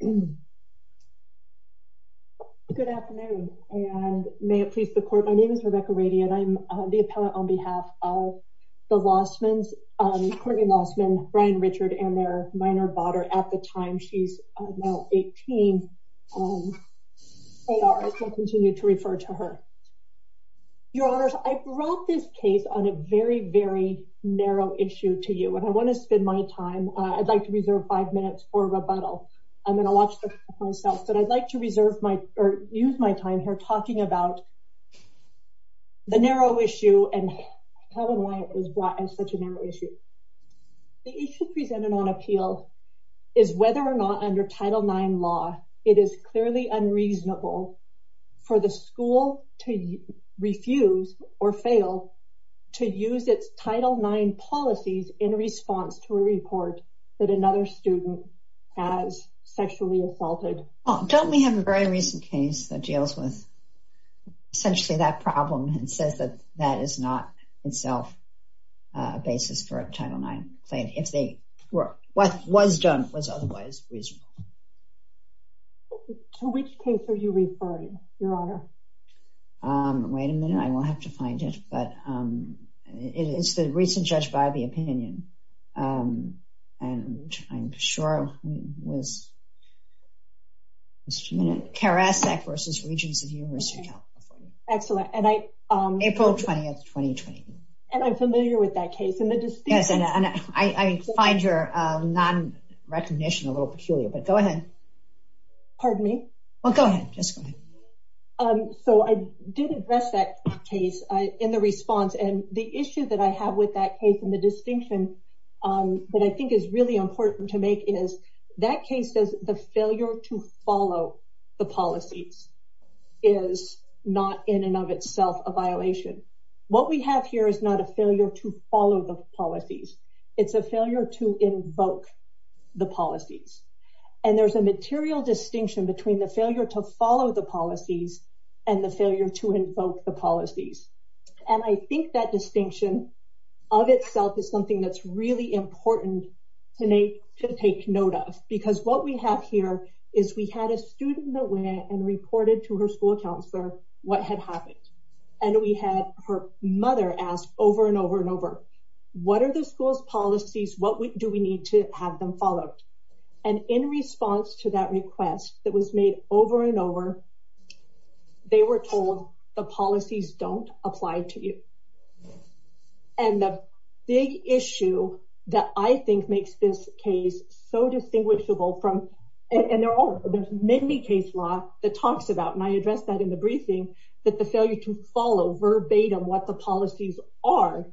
Good afternoon, and may it please the court, my name is Rebecca Rady and I'm the appellant on behalf of the Lossmann's, Courtney Lossmann, Brian Richard, and their minor daughter at the time. She's now 18. I shall continue to refer to her. Your Honors, I brought this case on a very, very narrow issue to you and I want to spend my time, I'd like to reserve five minutes for rebuttal. I'm going to watch myself, but I'd like to reserve my or use my time here talking about the narrow issue and how and why it was brought as such a narrow issue. The issue presented on appeal is whether or not under Title IX law it is clearly unreasonable for the school to refuse or fail to use its Title IX policies in response to a report that another student has sexually assaulted. Don't we have a very recent case that deals with essentially that problem and says that that is not itself a basis for a Title IX claim, if they were, what was done was otherwise reasonable. To which case are you referring, Your Honor? Wait a minute, I am sure it was Karasek v. Regents of the University of California. April 20, 2020. And I'm familiar with that case. Yes, and I find your non-recognition a little peculiar, but go ahead. Pardon me? Well, go ahead. So, I did address that case in response and the issue that I have with that case and the distinction that I think is really important to make is that case says the failure to follow the policies is not in and of itself a violation. What we have here is not a failure to follow the policies. It's a failure to invoke the policies. And there's a material distinction between the failure to follow the policies and the failure to invoke the policies. And I think that distinction of itself is something that's really important to take note of. Because what we have here is we had a student that went and reported to her school counselor what had happened. And we had her mother ask over and over and over, what are the school's policies? What do we need to have them follow? And in response to that request that was made over and over, they were told the policies don't apply to you. And the big issue that I think makes this case so distinguishable from, and they're all, there's many case law that talks about, and I addressed that in the briefing, that the failure to follow verbatim what the policies are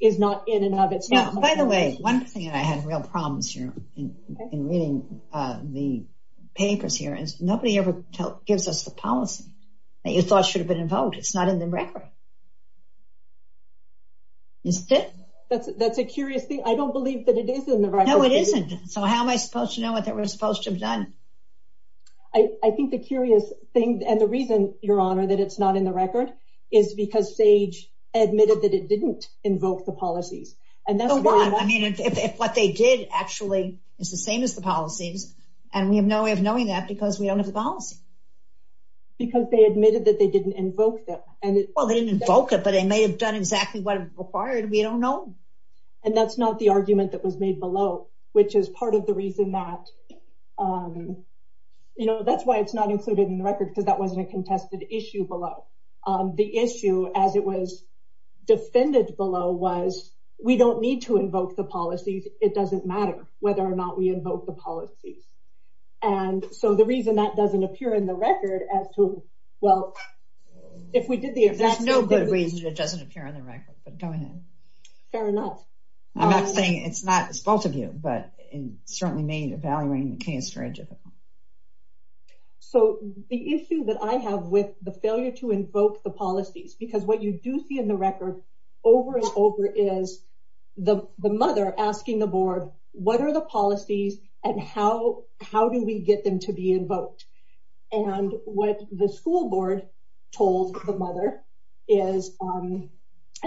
is not in and of itself. Now, by the way, one thing that I had real problems here in reading the papers here is nobody ever gives us the policy that you thought should have been invoked. It's not in the record. Isn't it? That's a curious thing. I don't believe that it is in the record. No, it isn't. So how am I supposed to know what they were supposed to have done? I think the curious thing, and the reason, Your Honor, that it's not in the record is because SAGE admitted that it didn't invoke the policies. And that's why I mean, if what they did actually is the same as the policies, and we have no way of knowing that because we don't have the policy. Because they admitted that they didn't invoke them. Well, they didn't invoke it, but they may have done exactly what it required. We don't know. And that's not the argument that was made below, which is part of the reason that, you know, that's why it's not included in the record, because that wasn't a contested issue below. The issue, as it was defended below, was we don't need to invoke the policies. It doesn't matter whether or not we invoke the policies. And so the reason that doesn't appear in the record as to, well, if we did the exact same thing. There's no good reason it doesn't appear on the record, but go ahead. Fair enough. I'm not saying it's not, it's both of you, but it certainly made evaluating the case very difficult. So the issue that I have with the failure to invoke the policies, because what you do see in the record over and over is the mother asking the board, what are the policies and how do we get them to be invoked? And what the school board told the mother is, and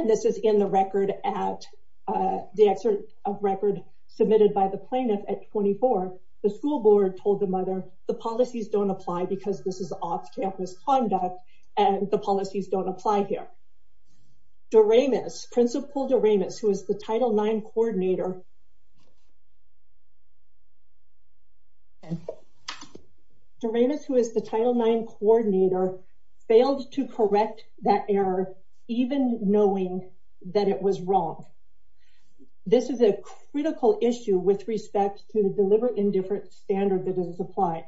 this is in the record at, the record submitted by the plaintiff at 24, the school board told the mother, the policies don't apply because this is off-campus conduct and the policies don't apply here. Doremus, Principal Doremus, who is the Title IX coordinator, Doremus, who is the Title IX coordinator, failed to correct that error, even knowing that it was wrong. This is a critical issue with respect to the deliberate indifference standard that doesn't apply.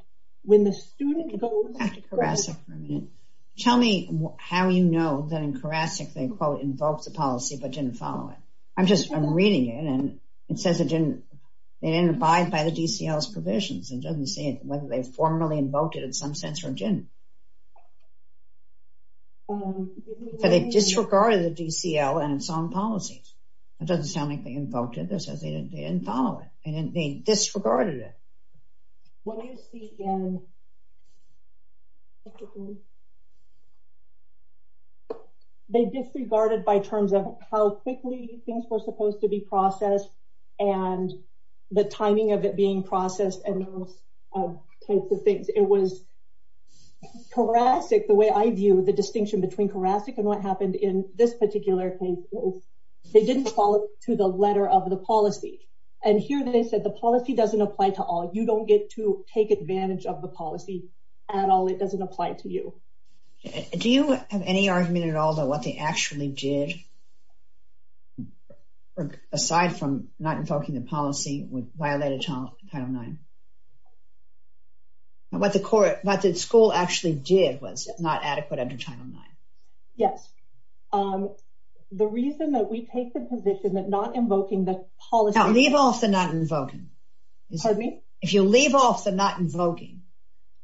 Tell me how you know that in Karasik, they quote, invoked the policy, but didn't follow it. I'm just, I'm reading it and it says it didn't, they didn't abide by the DCL's provisions. It doesn't say whether they formally invoked it in some sense or didn't. So they disregarded the DCL and its own policies. It doesn't sound like they didn't follow it. They disregarded it. When you speak in, they disregarded by terms of how quickly things were supposed to be processed and the timing of it being processed and those types of things. It was Karasik, the way I view the distinction between Karasik and what happened in this particular case, they didn't follow to the letter of the policy. And here they said the policy doesn't apply to all. You don't get to take advantage of the policy at all. It doesn't apply to you. Do you have any argument at all that what they actually did, aside from not invoking the policy, would violate Title IX? What the school actually did was not adequate under Title IX. Yes. The reason that we take the position that not invoking the policy... Now leave off the not invoking. Pardon me? If you leave off the not invoking,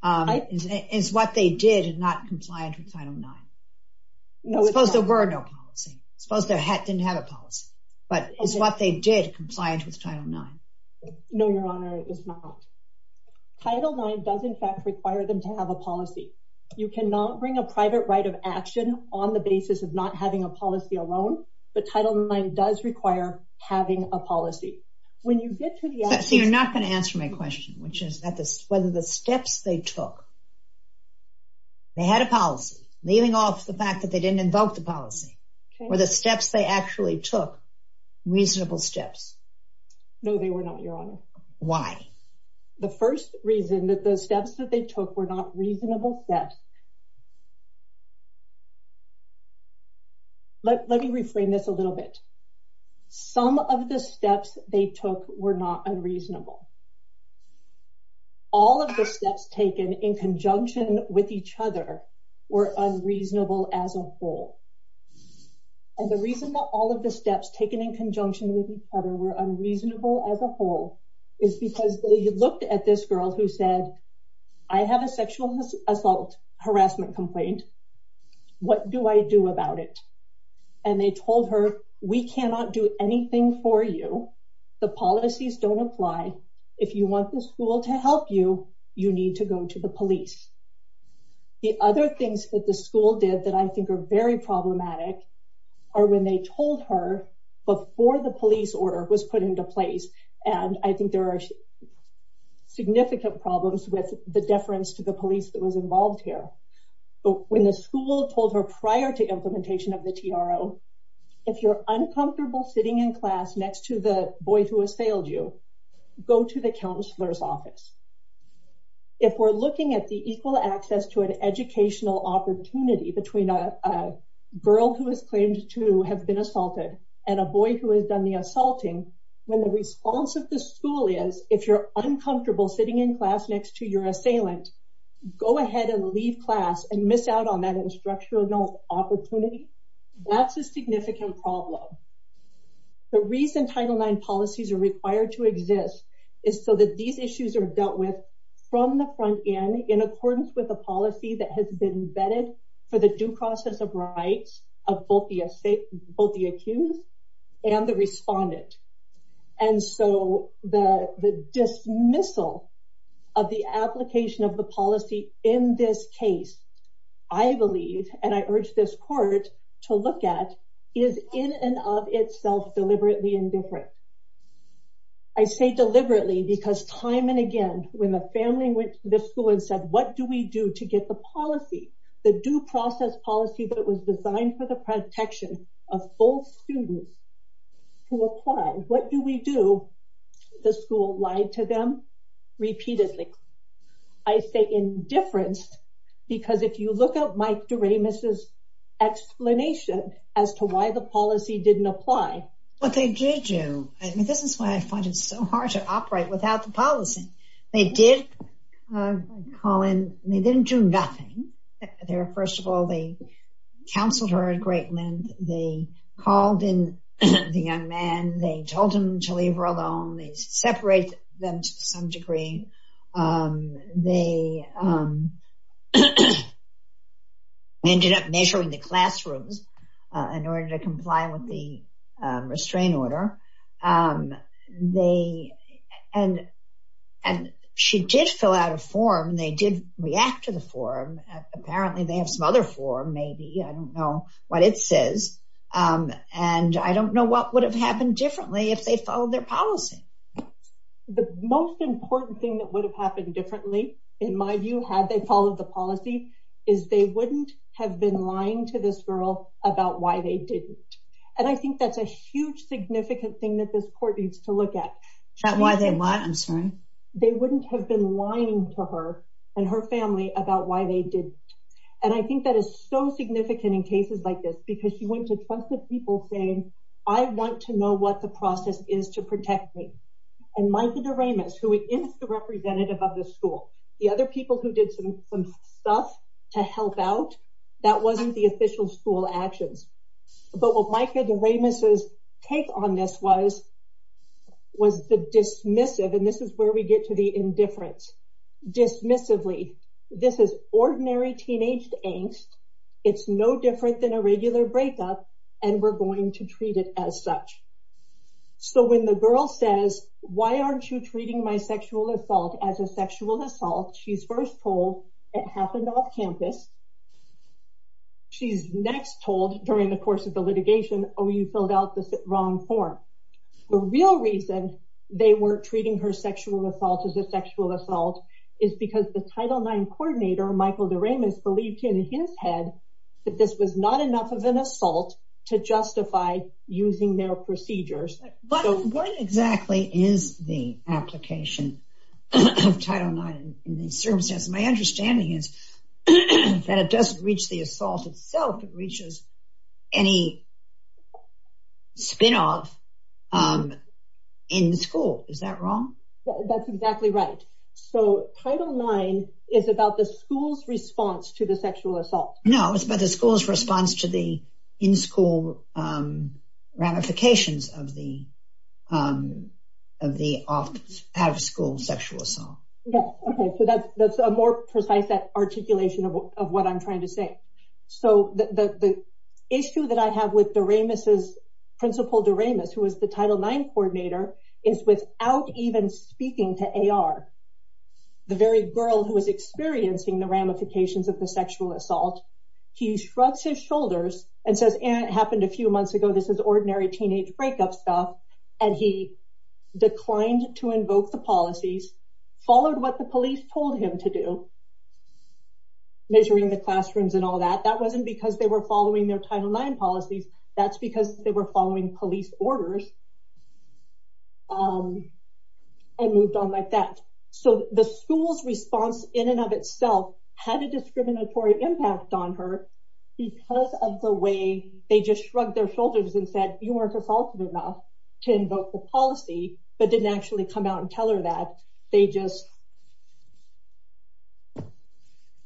is what they did not compliant with Title IX? Suppose there were no policy. Suppose they didn't have a policy. But is what they did compliant with Title IX? No, Your Honor, it is not. Title IX does in fact require them to have a policy. You cannot bring a private right of action on the basis of not having a policy alone. But Title IX does require having a policy. When you get to the... So you're not going to answer my question, which is whether the steps they took... They had a policy, leaving off the fact that they didn't invoke the policy. Were the steps they actually took reasonable steps? No, they were not, Your Honor. Why? The first reason that the steps that they took were not reasonable steps... Let me reframe this a little bit. Some of the steps they took were not unreasonable. All of the steps taken in conjunction with each other were unreasonable as a whole. And the reason that all of the steps taken in conjunction with each other were unreasonable as a whole is because they looked at this girl who said, I have a sexual assault harassment complaint. What do I do about it? And they told her, we cannot do anything for you. The policies don't apply. If you want the school to help you, you need to go to the police. The other things that the school did that I think are very problematic are when they told her before the police order was put into place. And I think there are significant problems with the deference to the police that was involved here. But when the school told her prior to implementation of the TRO, if you're uncomfortable sitting in class next to the boy who assailed you, go to the counselor's office. If we're looking at the equal access to an educational opportunity between a girl who has claimed to have been assaulted and a boy who has done the assaulting, when the response of the school is, if you're uncomfortable sitting in class next to your assailant, go ahead and leave class and miss out on that instructional opportunity. That's a significant problem. The reason Title IX policies are required to exist is so that these issues are dealt with from the front end in accordance with a policy that has been vetted for the due process of rights of both the accused and the respondent. And so the dismissal of the application of the policy in this case, I believe, and I urge this court to look at, is in and of itself deliberately indifferent. I say deliberately because time and again, when the family went to the school and said, what do we do to get the policy, the due process policy that was designed for the protection of both students to apply, what do we do? The school lied to them repeatedly. I say indifference because if you look at Mike Doremus's explanation as to why the policy didn't apply. What they did do, I mean, this is why I find it so hard to operate without the policy. They did call in. They didn't do nothing. First of all, they counseled her at great length. They called in the young man. They told him to leave her alone. They separated them to some degree. They ended up measuring the classrooms in order to comply with the restraint order. And she did fill out a form. They did react to the form. Apparently, they have some other form, maybe. I don't know what it says. And I don't know what would have happened differently if they followed their policy. The most important thing that would have happened differently, in my view, had they followed the policy, is they wouldn't have been lying to this girl about why they didn't. And I think that's a huge, significant thing that this court needs to look at. Is that why they lied? I'm sorry. They wouldn't have been lying to her and her family about why they didn't. And I think that is so significant in cases like this because you went to tons of people saying, I want to know what the process is to protect me. And Mike Doremus, who is the representative of the school, the other people who did some stuff to help out, that wasn't the official school actions. But what Mike Doremus' take on this was, was the dismissive. And this is where we get to the indifference. Dismissively, this is ordinary teenage angst. It's no different than a regular breakup. And we're going to treat it as such. So when the girl says, why aren't you treating my sexual assault as a sexual assault? She's first told it happened off campus. She's next told during the course of the litigation, oh, you filled out the wrong form. The real reason they weren't treating her sexual assault as a sexual assault is because the Title IX coordinator, Michael Doremus, believed in his head that this was not enough of an assault to justify using their procedures. What exactly is the application of Title IX in these circumstances? My understanding is that it doesn't reach the assault itself. It reaches any spin-off in the school. Is that wrong? That's exactly right. So Title IX is about the school's response to the sexual assault. No, it's about the school's response to the in-school ramifications of the out-of-school sexual assault. Okay, so that's a more precise articulation of what I'm trying to say. So the issue that I have with Doremus's, Principal Doremus, who is the Title IX coordinator, is without even speaking to AR, the very girl who is experiencing the ramifications of the sexual assault, he shrugs his shoulders and says, it happened a few months ago. This is ordinary teenage breakup stuff. And he declined to invoke the policies, followed what the police told him to do, measuring the classrooms and all that. That wasn't because they were following their Title IX policies. That's because they were following police orders and moved on like that. So the school's response in and of itself had a discriminatory impact on her because of the way they just shrugged their shoulders and said, you weren't assaultive enough. To invoke the policy, but didn't actually come out and tell her that. They just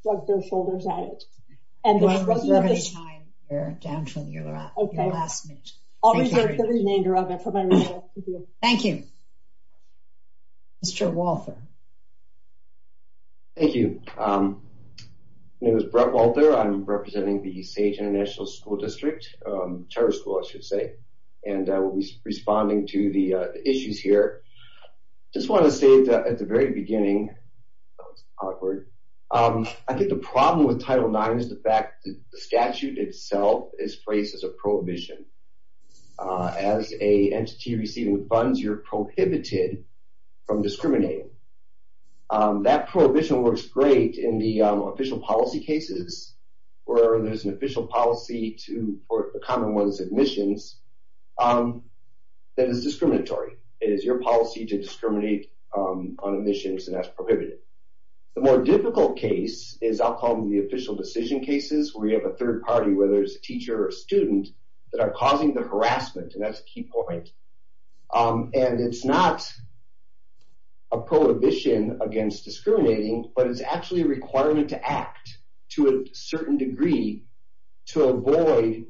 shrugged their shoulders at it. You want to reserve the time. We're down to your last minute. I'll reserve the remainder of it for my last minute. Thank you. Mr. Walther. Thank you. My name is Brett Walther. I'm representing the SAGE International School District, charter school, I should say. And I will be responding to the issues here. Just want to say at the very beginning, that was awkward. I think the problem with Title IX is the fact that the statute itself is phrased as a prohibition. As an entity receiving funds, you're prohibited from discriminating. That prohibition works great in the official policy cases, where there's an official policy to, or a common one is admissions, that is discriminatory. It is your policy to discriminate on admissions, and that's prohibited. The more difficult case is, I'll call them the official decision cases, where you have a third party, whether it's a teacher or a student, that are causing the harassment. And that's a key point. And it's not a prohibition against discriminating, but it's actually a requirement to act to a certain degree to avoid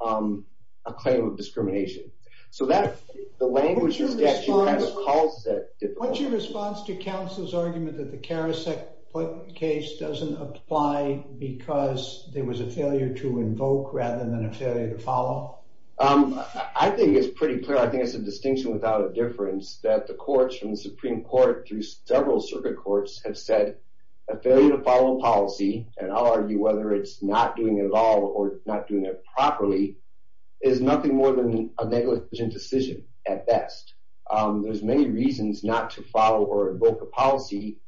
a claim of discrimination. So the language of the statute kind of calls that difficult. What's your response to counsel's argument that the Karasek case doesn't apply because there was a failure to invoke rather than a failure to follow? I think it's pretty clear. I think it's a distinction without a difference that the courts, from the Supreme Court through several circuit courts, have said a failure to follow policy, and I'll argue whether it's not doing it at all or not doing it properly, is nothing more than a negligent decision at best. There's many reasons not to follow or invoke a policy,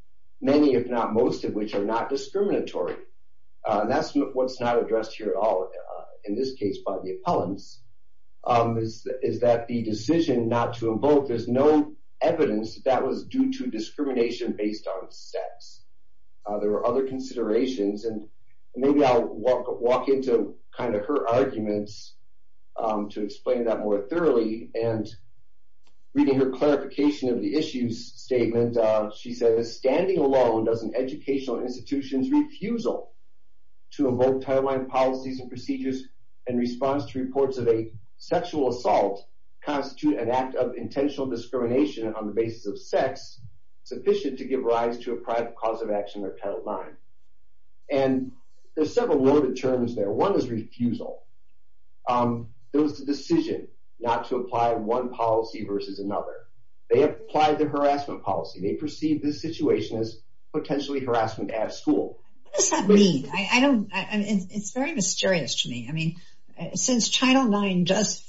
many if not most of which are not discriminatory. That's what's not addressed here at all, in this case by the appellants, is that the decision not to invoke, there's no evidence that that was due to discrimination based on sex. There were other considerations, and maybe I'll walk into kind of her arguments to explain that more thoroughly. And reading her clarification of the issues statement, she says, standing alone does an educational institution's refusal to invoke timeline policies and procedures in response to reports of a sexual assault constitute an act of intentional discrimination on the basis of sex sufficient to give rise to a private cause of action or Title IX. And there's several worded terms there. One is refusal. There was the decision not to apply one policy versus another. They applied the harassment policy. They perceived this situation as potentially harassment at school. What does that mean? It's very mysterious to me. Since Title IX does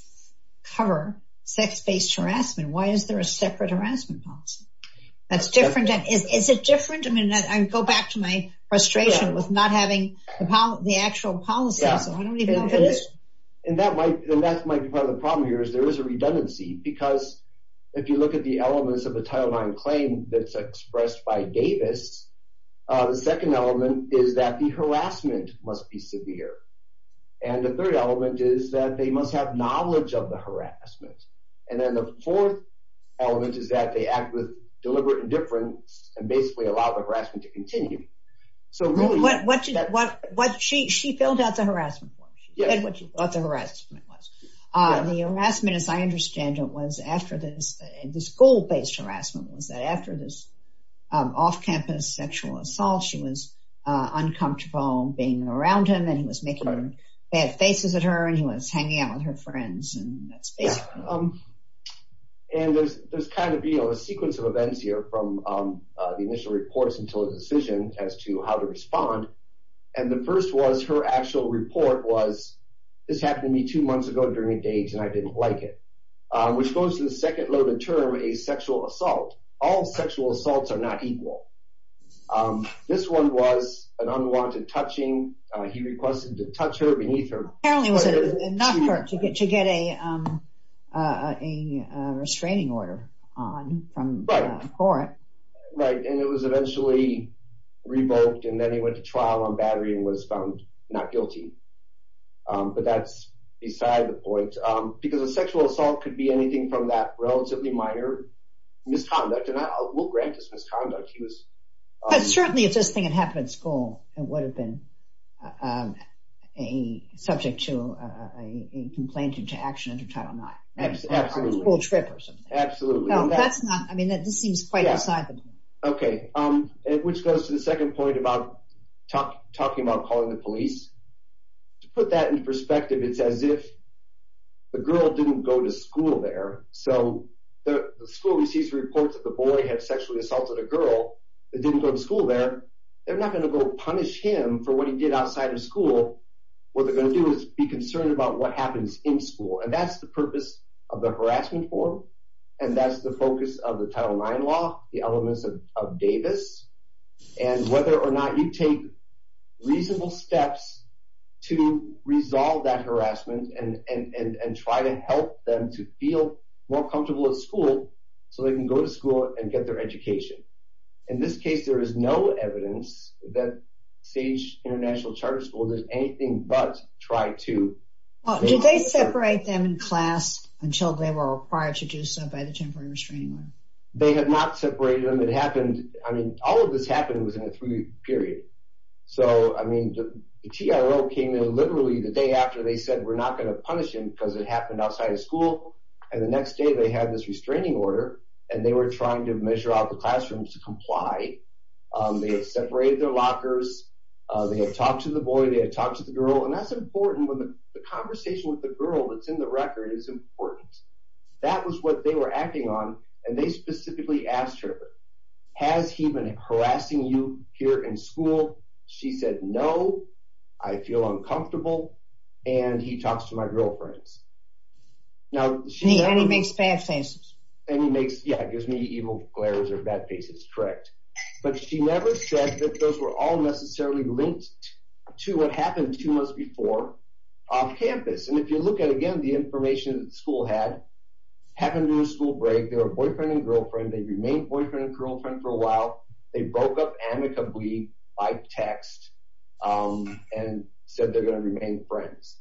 cover sex-based harassment, why is there a separate harassment policy? That's different. Is it different? I mean, I go back to my frustration with not having the actual policy. And that might be part of the problem here is there is a redundancy, because if you look at the elements of a Title IX claim that's expressed by Davis, the second element is that the harassment must be severe. And the third element is that they must have knowledge of the harassment. And then the fourth element is that they act with deliberate indifference and basically allow the harassment to continue. She filled out the harassment form. She said what the harassment was. The harassment, as I understand it, was after this school-based harassment was that after this off-campus sexual assault, she was uncomfortable being around him. And he was making bad faces at her. And he was hanging out with her friends. And there's kind of a sequence of events here from the initial reports until the decision as to how to respond. And the first was her actual report was, this happened to me two months ago during a date and I didn't like it, which goes to the second loaded term, a sexual assault. All sexual assaults are not equal. This one was an unwanted touching. He requested to touch her beneath her. Apparently it was enough to get a restraining order on from the court. Right. And it was eventually revoked. And then he went to trial on battery and was found not guilty. But that's beside the point. Because a sexual assault could be anything from that relatively minor misconduct. And I will grant it's misconduct. He was... But certainly if this thing had happened at school, it would have been. Um, a subject to a complaint into action under Title IX. Absolutely. Or a school trip or something. Absolutely. No, that's not. I mean, this seems quite beside the point. Okay. Which goes to the second point about talking about calling the police. To put that in perspective, it's as if the girl didn't go to school there. So the school receives reports that the boy had sexually assaulted a girl that didn't go to school there. They're not going to go punish him for what he did outside of school. What they're going to do is be concerned about what happens in school. And that's the purpose of the harassment form. And that's the focus of the Title IX law. The elements of Davis. And whether or not you take reasonable steps to resolve that harassment and try to help them to feel more comfortable at school so they can go to school and get their education. In this case, there is no evidence that Sage International Charter School did anything but try to. Did they separate them in class until they were required to do so by the Temporary Restraining Order? They had not separated them. It happened, I mean, all of this happened within a three-week period. So, I mean, the TRO came in literally the day after they said we're not going to punish him because it happened outside of school. And the next day they had this restraining order and they were trying to measure out the classrooms to comply. They had separated their lockers. They had talked to the boy. They had talked to the girl. And that's important when the conversation with the girl that's in the record is important. That was what they were acting on. And they specifically asked her, has he been harassing you here in school? She said, no, I feel uncomfortable. And he talks to my girlfriends. Now, she... And he makes bad faces. And he makes, yeah, gives me evil glares or bad faces. Correct. But she never said that those were all necessarily linked to what happened to us before off campus. And if you look at, again, the information that school had, happened during school break. They were boyfriend and girlfriend. They remained boyfriend and girlfriend for a while. They broke up amicably by text and said they're going to remain friends.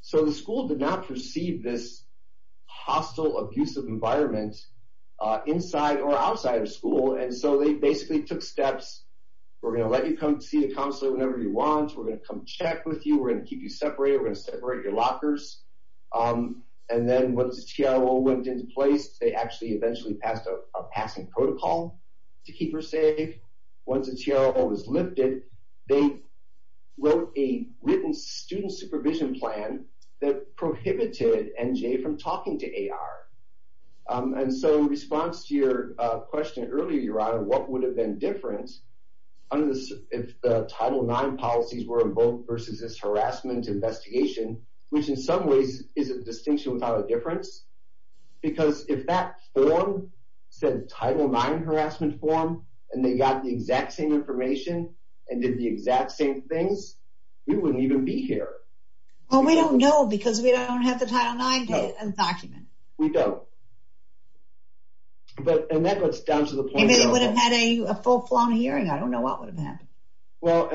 So the school did not perceive this hostile, abusive environment inside or outside of school. And so they basically took steps. We're going to let you come see the counselor whenever you want. We're going to come check with you. We're going to keep you separated. We're going to separate your lockers. And then once the TRO went into place, they actually eventually passed a passing protocol to keep her safe. Once the TRO was lifted, they wrote a written student supervision plan that prohibited NJ from talking to AR. And so in response to your question earlier, Your Honor, what would have been different if the Title IX policies were invoked versus this harassment investigation, which in some ways is a distinction without a difference. Because if that form said Title IX harassment form and they got the exact same information and did the exact same things, we wouldn't even be here. Well, we don't know because we don't have the Title IX document. We don't. And that goes down to the point... Maybe they would have had a full-blown hearing. I don't know what would have happened. Well,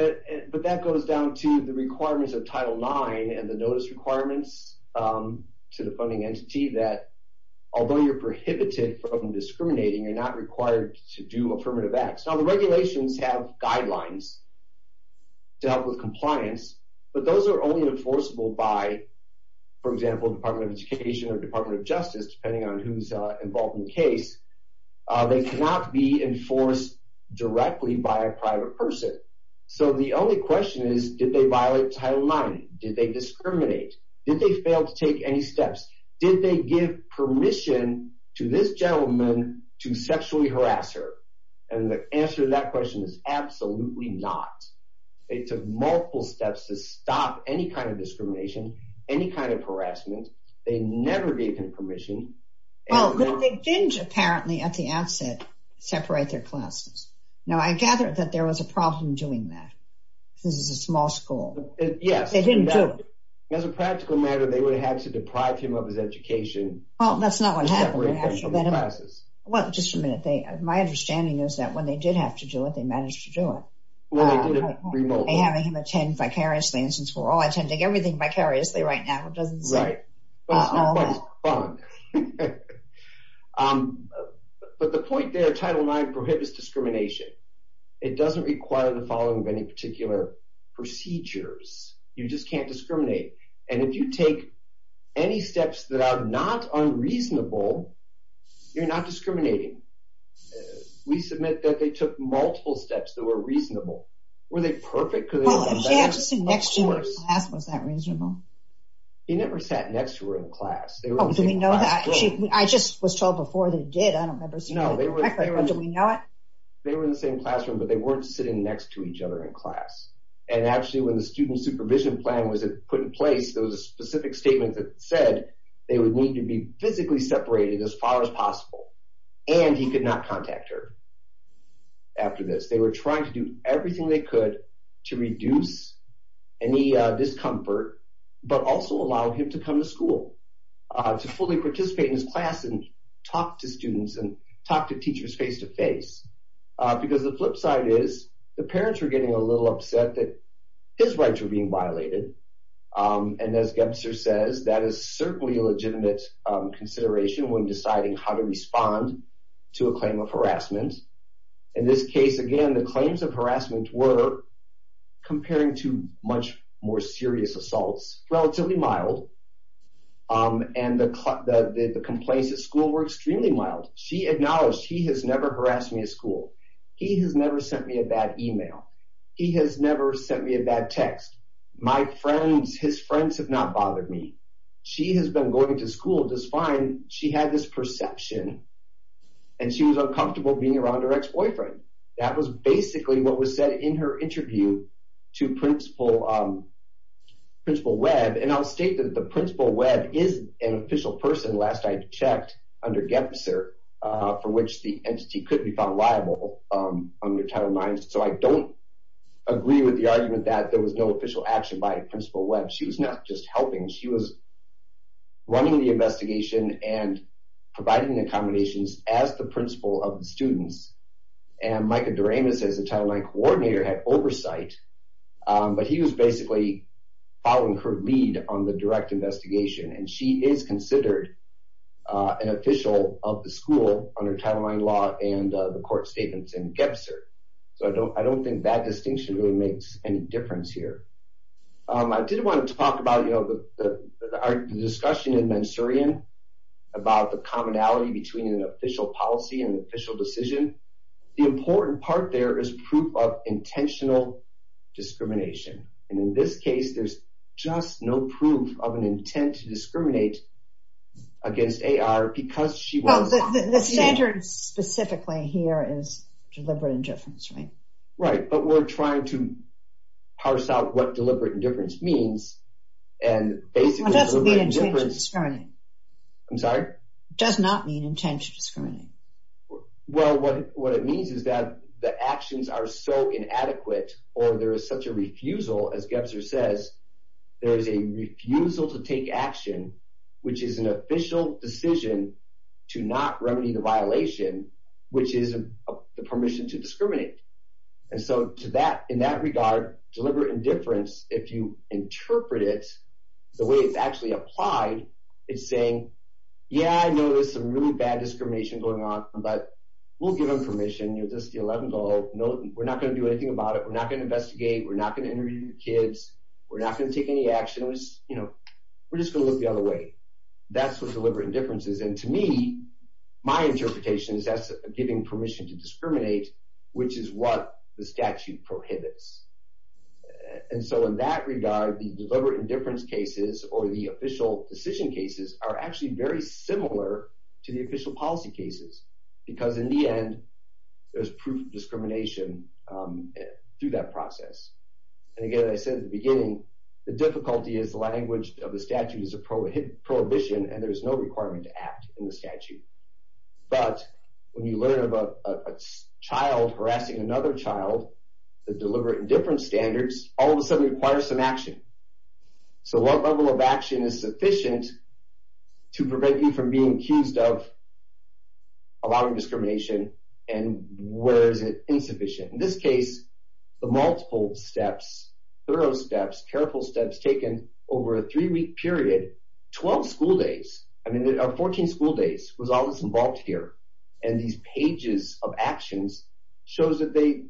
but that goes down to the requirements of Title IX and the notice requirements to the funding entity that although you're prohibited from discriminating, you're not required to do affirmative acts. Now the regulations have guidelines to help with compliance, but those are only enforceable by, for example, Department of Education or Department of Justice, depending on who's involved in the case. They cannot be enforced directly by a private person. So the only question is, did they violate Title IX? Did they discriminate? Did they fail to take any steps? Did they give permission to this gentleman to sexually harass her? And the answer to that question is absolutely not. They took multiple steps to stop any kind of discrimination, any kind of harassment. They never gave him permission. Well, but they didn't, apparently, at the outset, separate their classes. Now, I gather that there was a problem doing that. This is a small school. Yes. They didn't do it. As a practical matter, they would have had to deprive him of his education. Well, that's not what happened. They separated him from his classes. Well, just a minute. My understanding is that when they did have to do it, they managed to do it. Well, they did it remotely. By having him attend vicariously. And since we're all attending everything vicariously right now, it doesn't seem... Right. But the point there, Title IX prohibits discrimination. It doesn't require the following of any particular procedures. You just can't discriminate. And if you take any steps that are not unreasonable, you're not discriminating. We submit that they took multiple steps that were reasonable. Were they perfect? Well, he had to sit next to her in class. Was that reasonable? He never sat next to her in class. Oh, do we know that? I just was told before they did. I don't remember seeing that correctly, but do we know it? They were in the same classroom, but they weren't sitting next to each other in class. And actually, when the student supervision plan was put in place, there was a specific statement that said they would need to be physically separated as far as possible. And he could not contact her after this. They were trying to do everything they could to reduce any discomfort, but also allow him to come to school, to fully participate in his class and talk to students and talk to teachers face-to-face. Because the flip side is the parents were getting a little upset that his rights were being violated. And as Gebzer says, that is certainly a legitimate consideration when deciding how to respond to a claim of harassment. In this case, again, the claims of harassment were, comparing to much more serious assaults, relatively mild. And the complaints at school were extremely mild. She acknowledged, he has never harassed me at school. He has never sent me a bad email. He has never sent me a bad text. His friends have not bothered me. She has been going to school just fine. She had this perception, and she was uncomfortable being around her ex-boyfriend. That was basically what was said in her interview to Principal Webb. And I'll state that the Principal Webb is an official person, last I checked, under Gebzer, for which the entity could be found liable under Title IX. So I don't agree with the argument that there was no official action by Principal Webb. She was not just helping. She was running the investigation and providing accommodations as the principal of the students. And Micah Doremus, as the Title IX coordinator, had oversight. But he was basically following her lead on the direct investigation. And she is considered an official of the school under Title IX law and the court statements in Gebzer. So I don't think that distinction really makes any difference here. I did want to talk about the discussion in Mansurian about the commonality between an official policy and an official decision. The important part there is proof of intentional discrimination. And in this case, there's just no proof of an intent to discriminate against A.R. because she was... Oh, the standard specifically here is deliberate indifference, right? Right, but we're trying to parse out what deliberate indifference means. And basically... It doesn't mean intentional discriminating. I'm sorry? It does not mean intentional discriminating. Well, what it means is that the actions are so inadequate, or there is such a refusal, as Gebzer says, there is a refusal to take action, which is the permission to discriminate. And so, in that regard, deliberate indifference, if you interpret it the way it's actually applied, it's saying, yeah, I know there's some really bad discrimination going on, but we'll give them permission. You're just the 11-year-old. We're not going to do anything about it. We're not going to investigate. We're not going to interview your kids. We're not going to take any action. We're just going to look the other way. That's what deliberate indifference is. And to me, my interpretation is that's giving permission to discriminate, which is what the statute prohibits. And so, in that regard, the deliberate indifference cases, or the official decision cases, are actually very similar to the official policy cases, because in the end, there's proof of discrimination through that process. And again, I said at the beginning, the difficulty is the language of the statute is a prohibition, and there's no requirement to act in the statute. But when you learn about a child harassing another child, the deliberate indifference standards, all of a sudden requires some action. So what level of action is sufficient to prevent you from being accused of allowing discrimination? And where is it insufficient? In this case, the multiple steps, thorough steps, careful steps taken over a three-week period, 12 school days, I mean, 14 school days was all that's involved here. And these pages of actions shows that they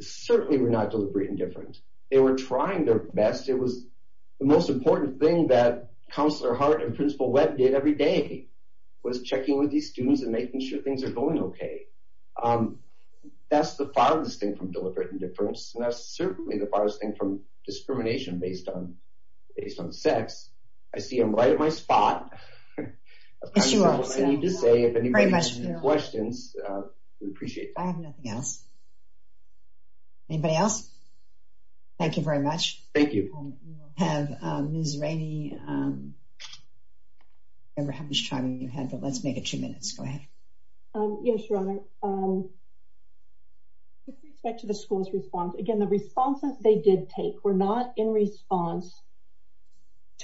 certainly were not deliberate indifference. They were trying their best. It was the most important thing that Counselor Hart and Principal Webb did every day, was checking with these students and making sure things are going okay. That's the farthest thing from deliberate indifference, and that's certainly the farthest thing from discrimination based on sex. I see I'm right at my spot. That's what I need to say. If anybody has any questions, we appreciate it. I have nothing else. Anybody else? Thank you very much. Thank you. We'll have Ms. Rainey. I don't remember how much time you had, but let's make it two minutes. Go ahead. Yes, Your Honor. With respect to the school's response, again, the responses they did take were not in response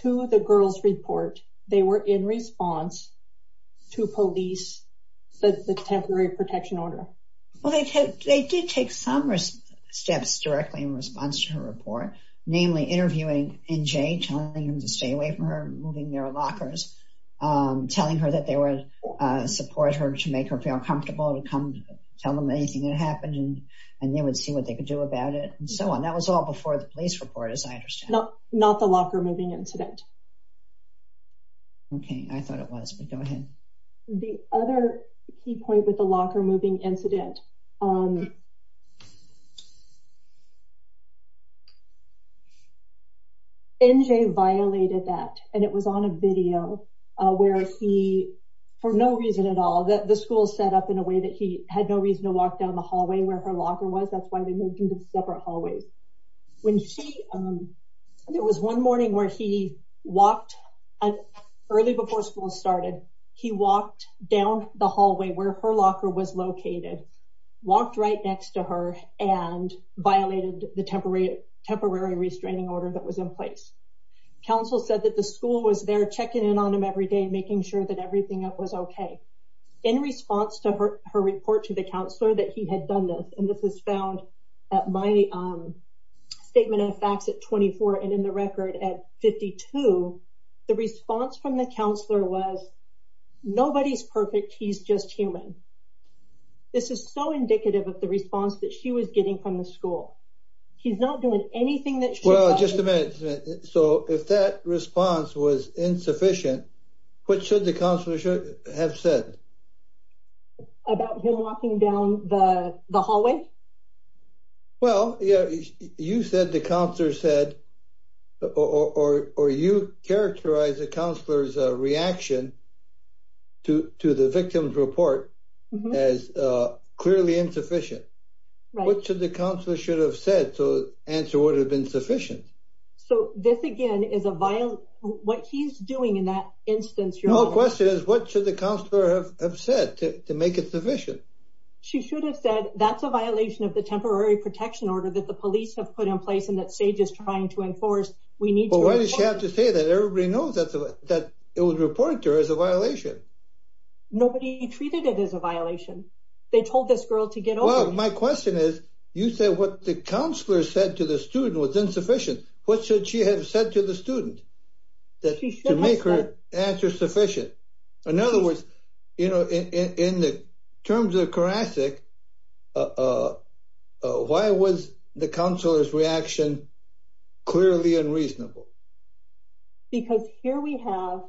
to the girl's report. They were in response to police, the temporary protection order. Well, they did take some steps directly in response to her report, namely interviewing NJ, telling him to stay away from her, moving their lockers, telling her that they would support her to make her feel comfortable to come tell them anything that happened, and they would see what they could do about it, and so on. That was all before the police report, as I understand. Not the locker-moving incident. Okay. I thought it was, but go ahead. The other key point with the locker-moving incident, NJ violated that, and it was on a video where he, for no reason at all, the school set up in a way that he had no reason to walk down the hallway where her locker was. That's why they moved into separate hallways. There was one morning where he walked, early before school started, he walked down the hallway where her locker was located, walked right next to her, and violated the temporary restraining order that was in place. Counsel said that the school was there checking in on him every day, making sure that everything was okay. In response to her report to the counselor that he had done this, this was found at my statement of facts at 24, and in the record at 52, the response from the counselor was, nobody's perfect, he's just human. This is so indicative of the response that she was getting from the school. He's not doing anything that she- Well, just a minute. So, if that response was insufficient, what should the counselor have said? About him walking down the hallway? Well, you said the counselor said, or you characterized the counselor's reaction to the victim's report as clearly insufficient. Right. What should the counselor should have said to answer what had been sufficient? So, this again is a violent, what he's doing in that instance- My question is, what should the counselor have said to make it sufficient? She should have said, that's a violation of the temporary protection order that the police have put in place, and that SAGE is trying to enforce, we need to- But why does she have to say that? Everybody knows that it was reported to her as a violation. Nobody treated it as a violation. They told this girl to get over- Well, my question is, you said what the counselor said to the student was insufficient. What should she have said to the student? To make her answer sufficient. In other words, in the terms of Karacik, why was the counselor's reaction clearly unreasonable? Because here we have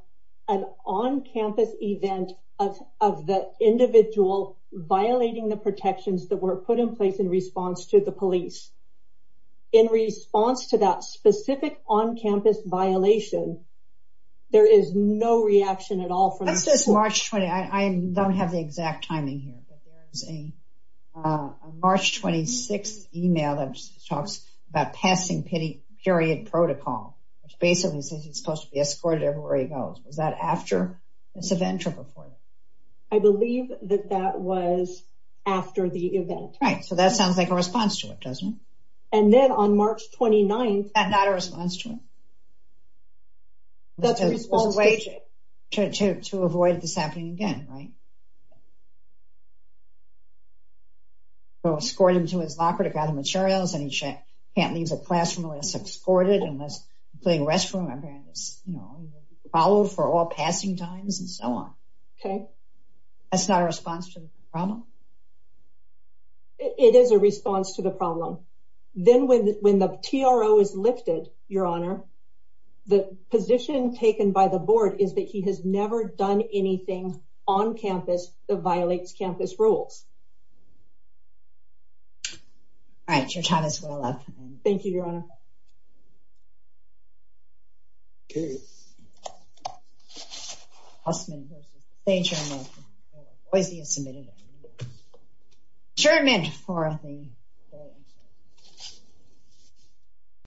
an on-campus event of the individual violating the protections that were put in place in response to the police. In response to that specific on-campus violation, there is no reaction at all from- That's just March 20th. I don't have the exact timing here, but there is a March 26th email that talks about passing period protocol, which basically says he's supposed to be escorted everywhere he goes. Was that after this event or before that? I believe that that was after the event. Right. So, that sounds like a response to it, doesn't it? And then on March 29th- That's not a response to it. That's a response to it. To avoid this happening again, right? So, escort him to his locker to grab the materials, and he can't leave the classroom unless escorted, unless he's playing restroom, and he's followed for all passing times, and so on. Okay. That's not a response to the problem? It is a response to the problem. Then when the TRO is lifted, Your Honor, the position taken by the board is that he has never done anything on campus that violates campus rules. All right. Your time is well up. Okay.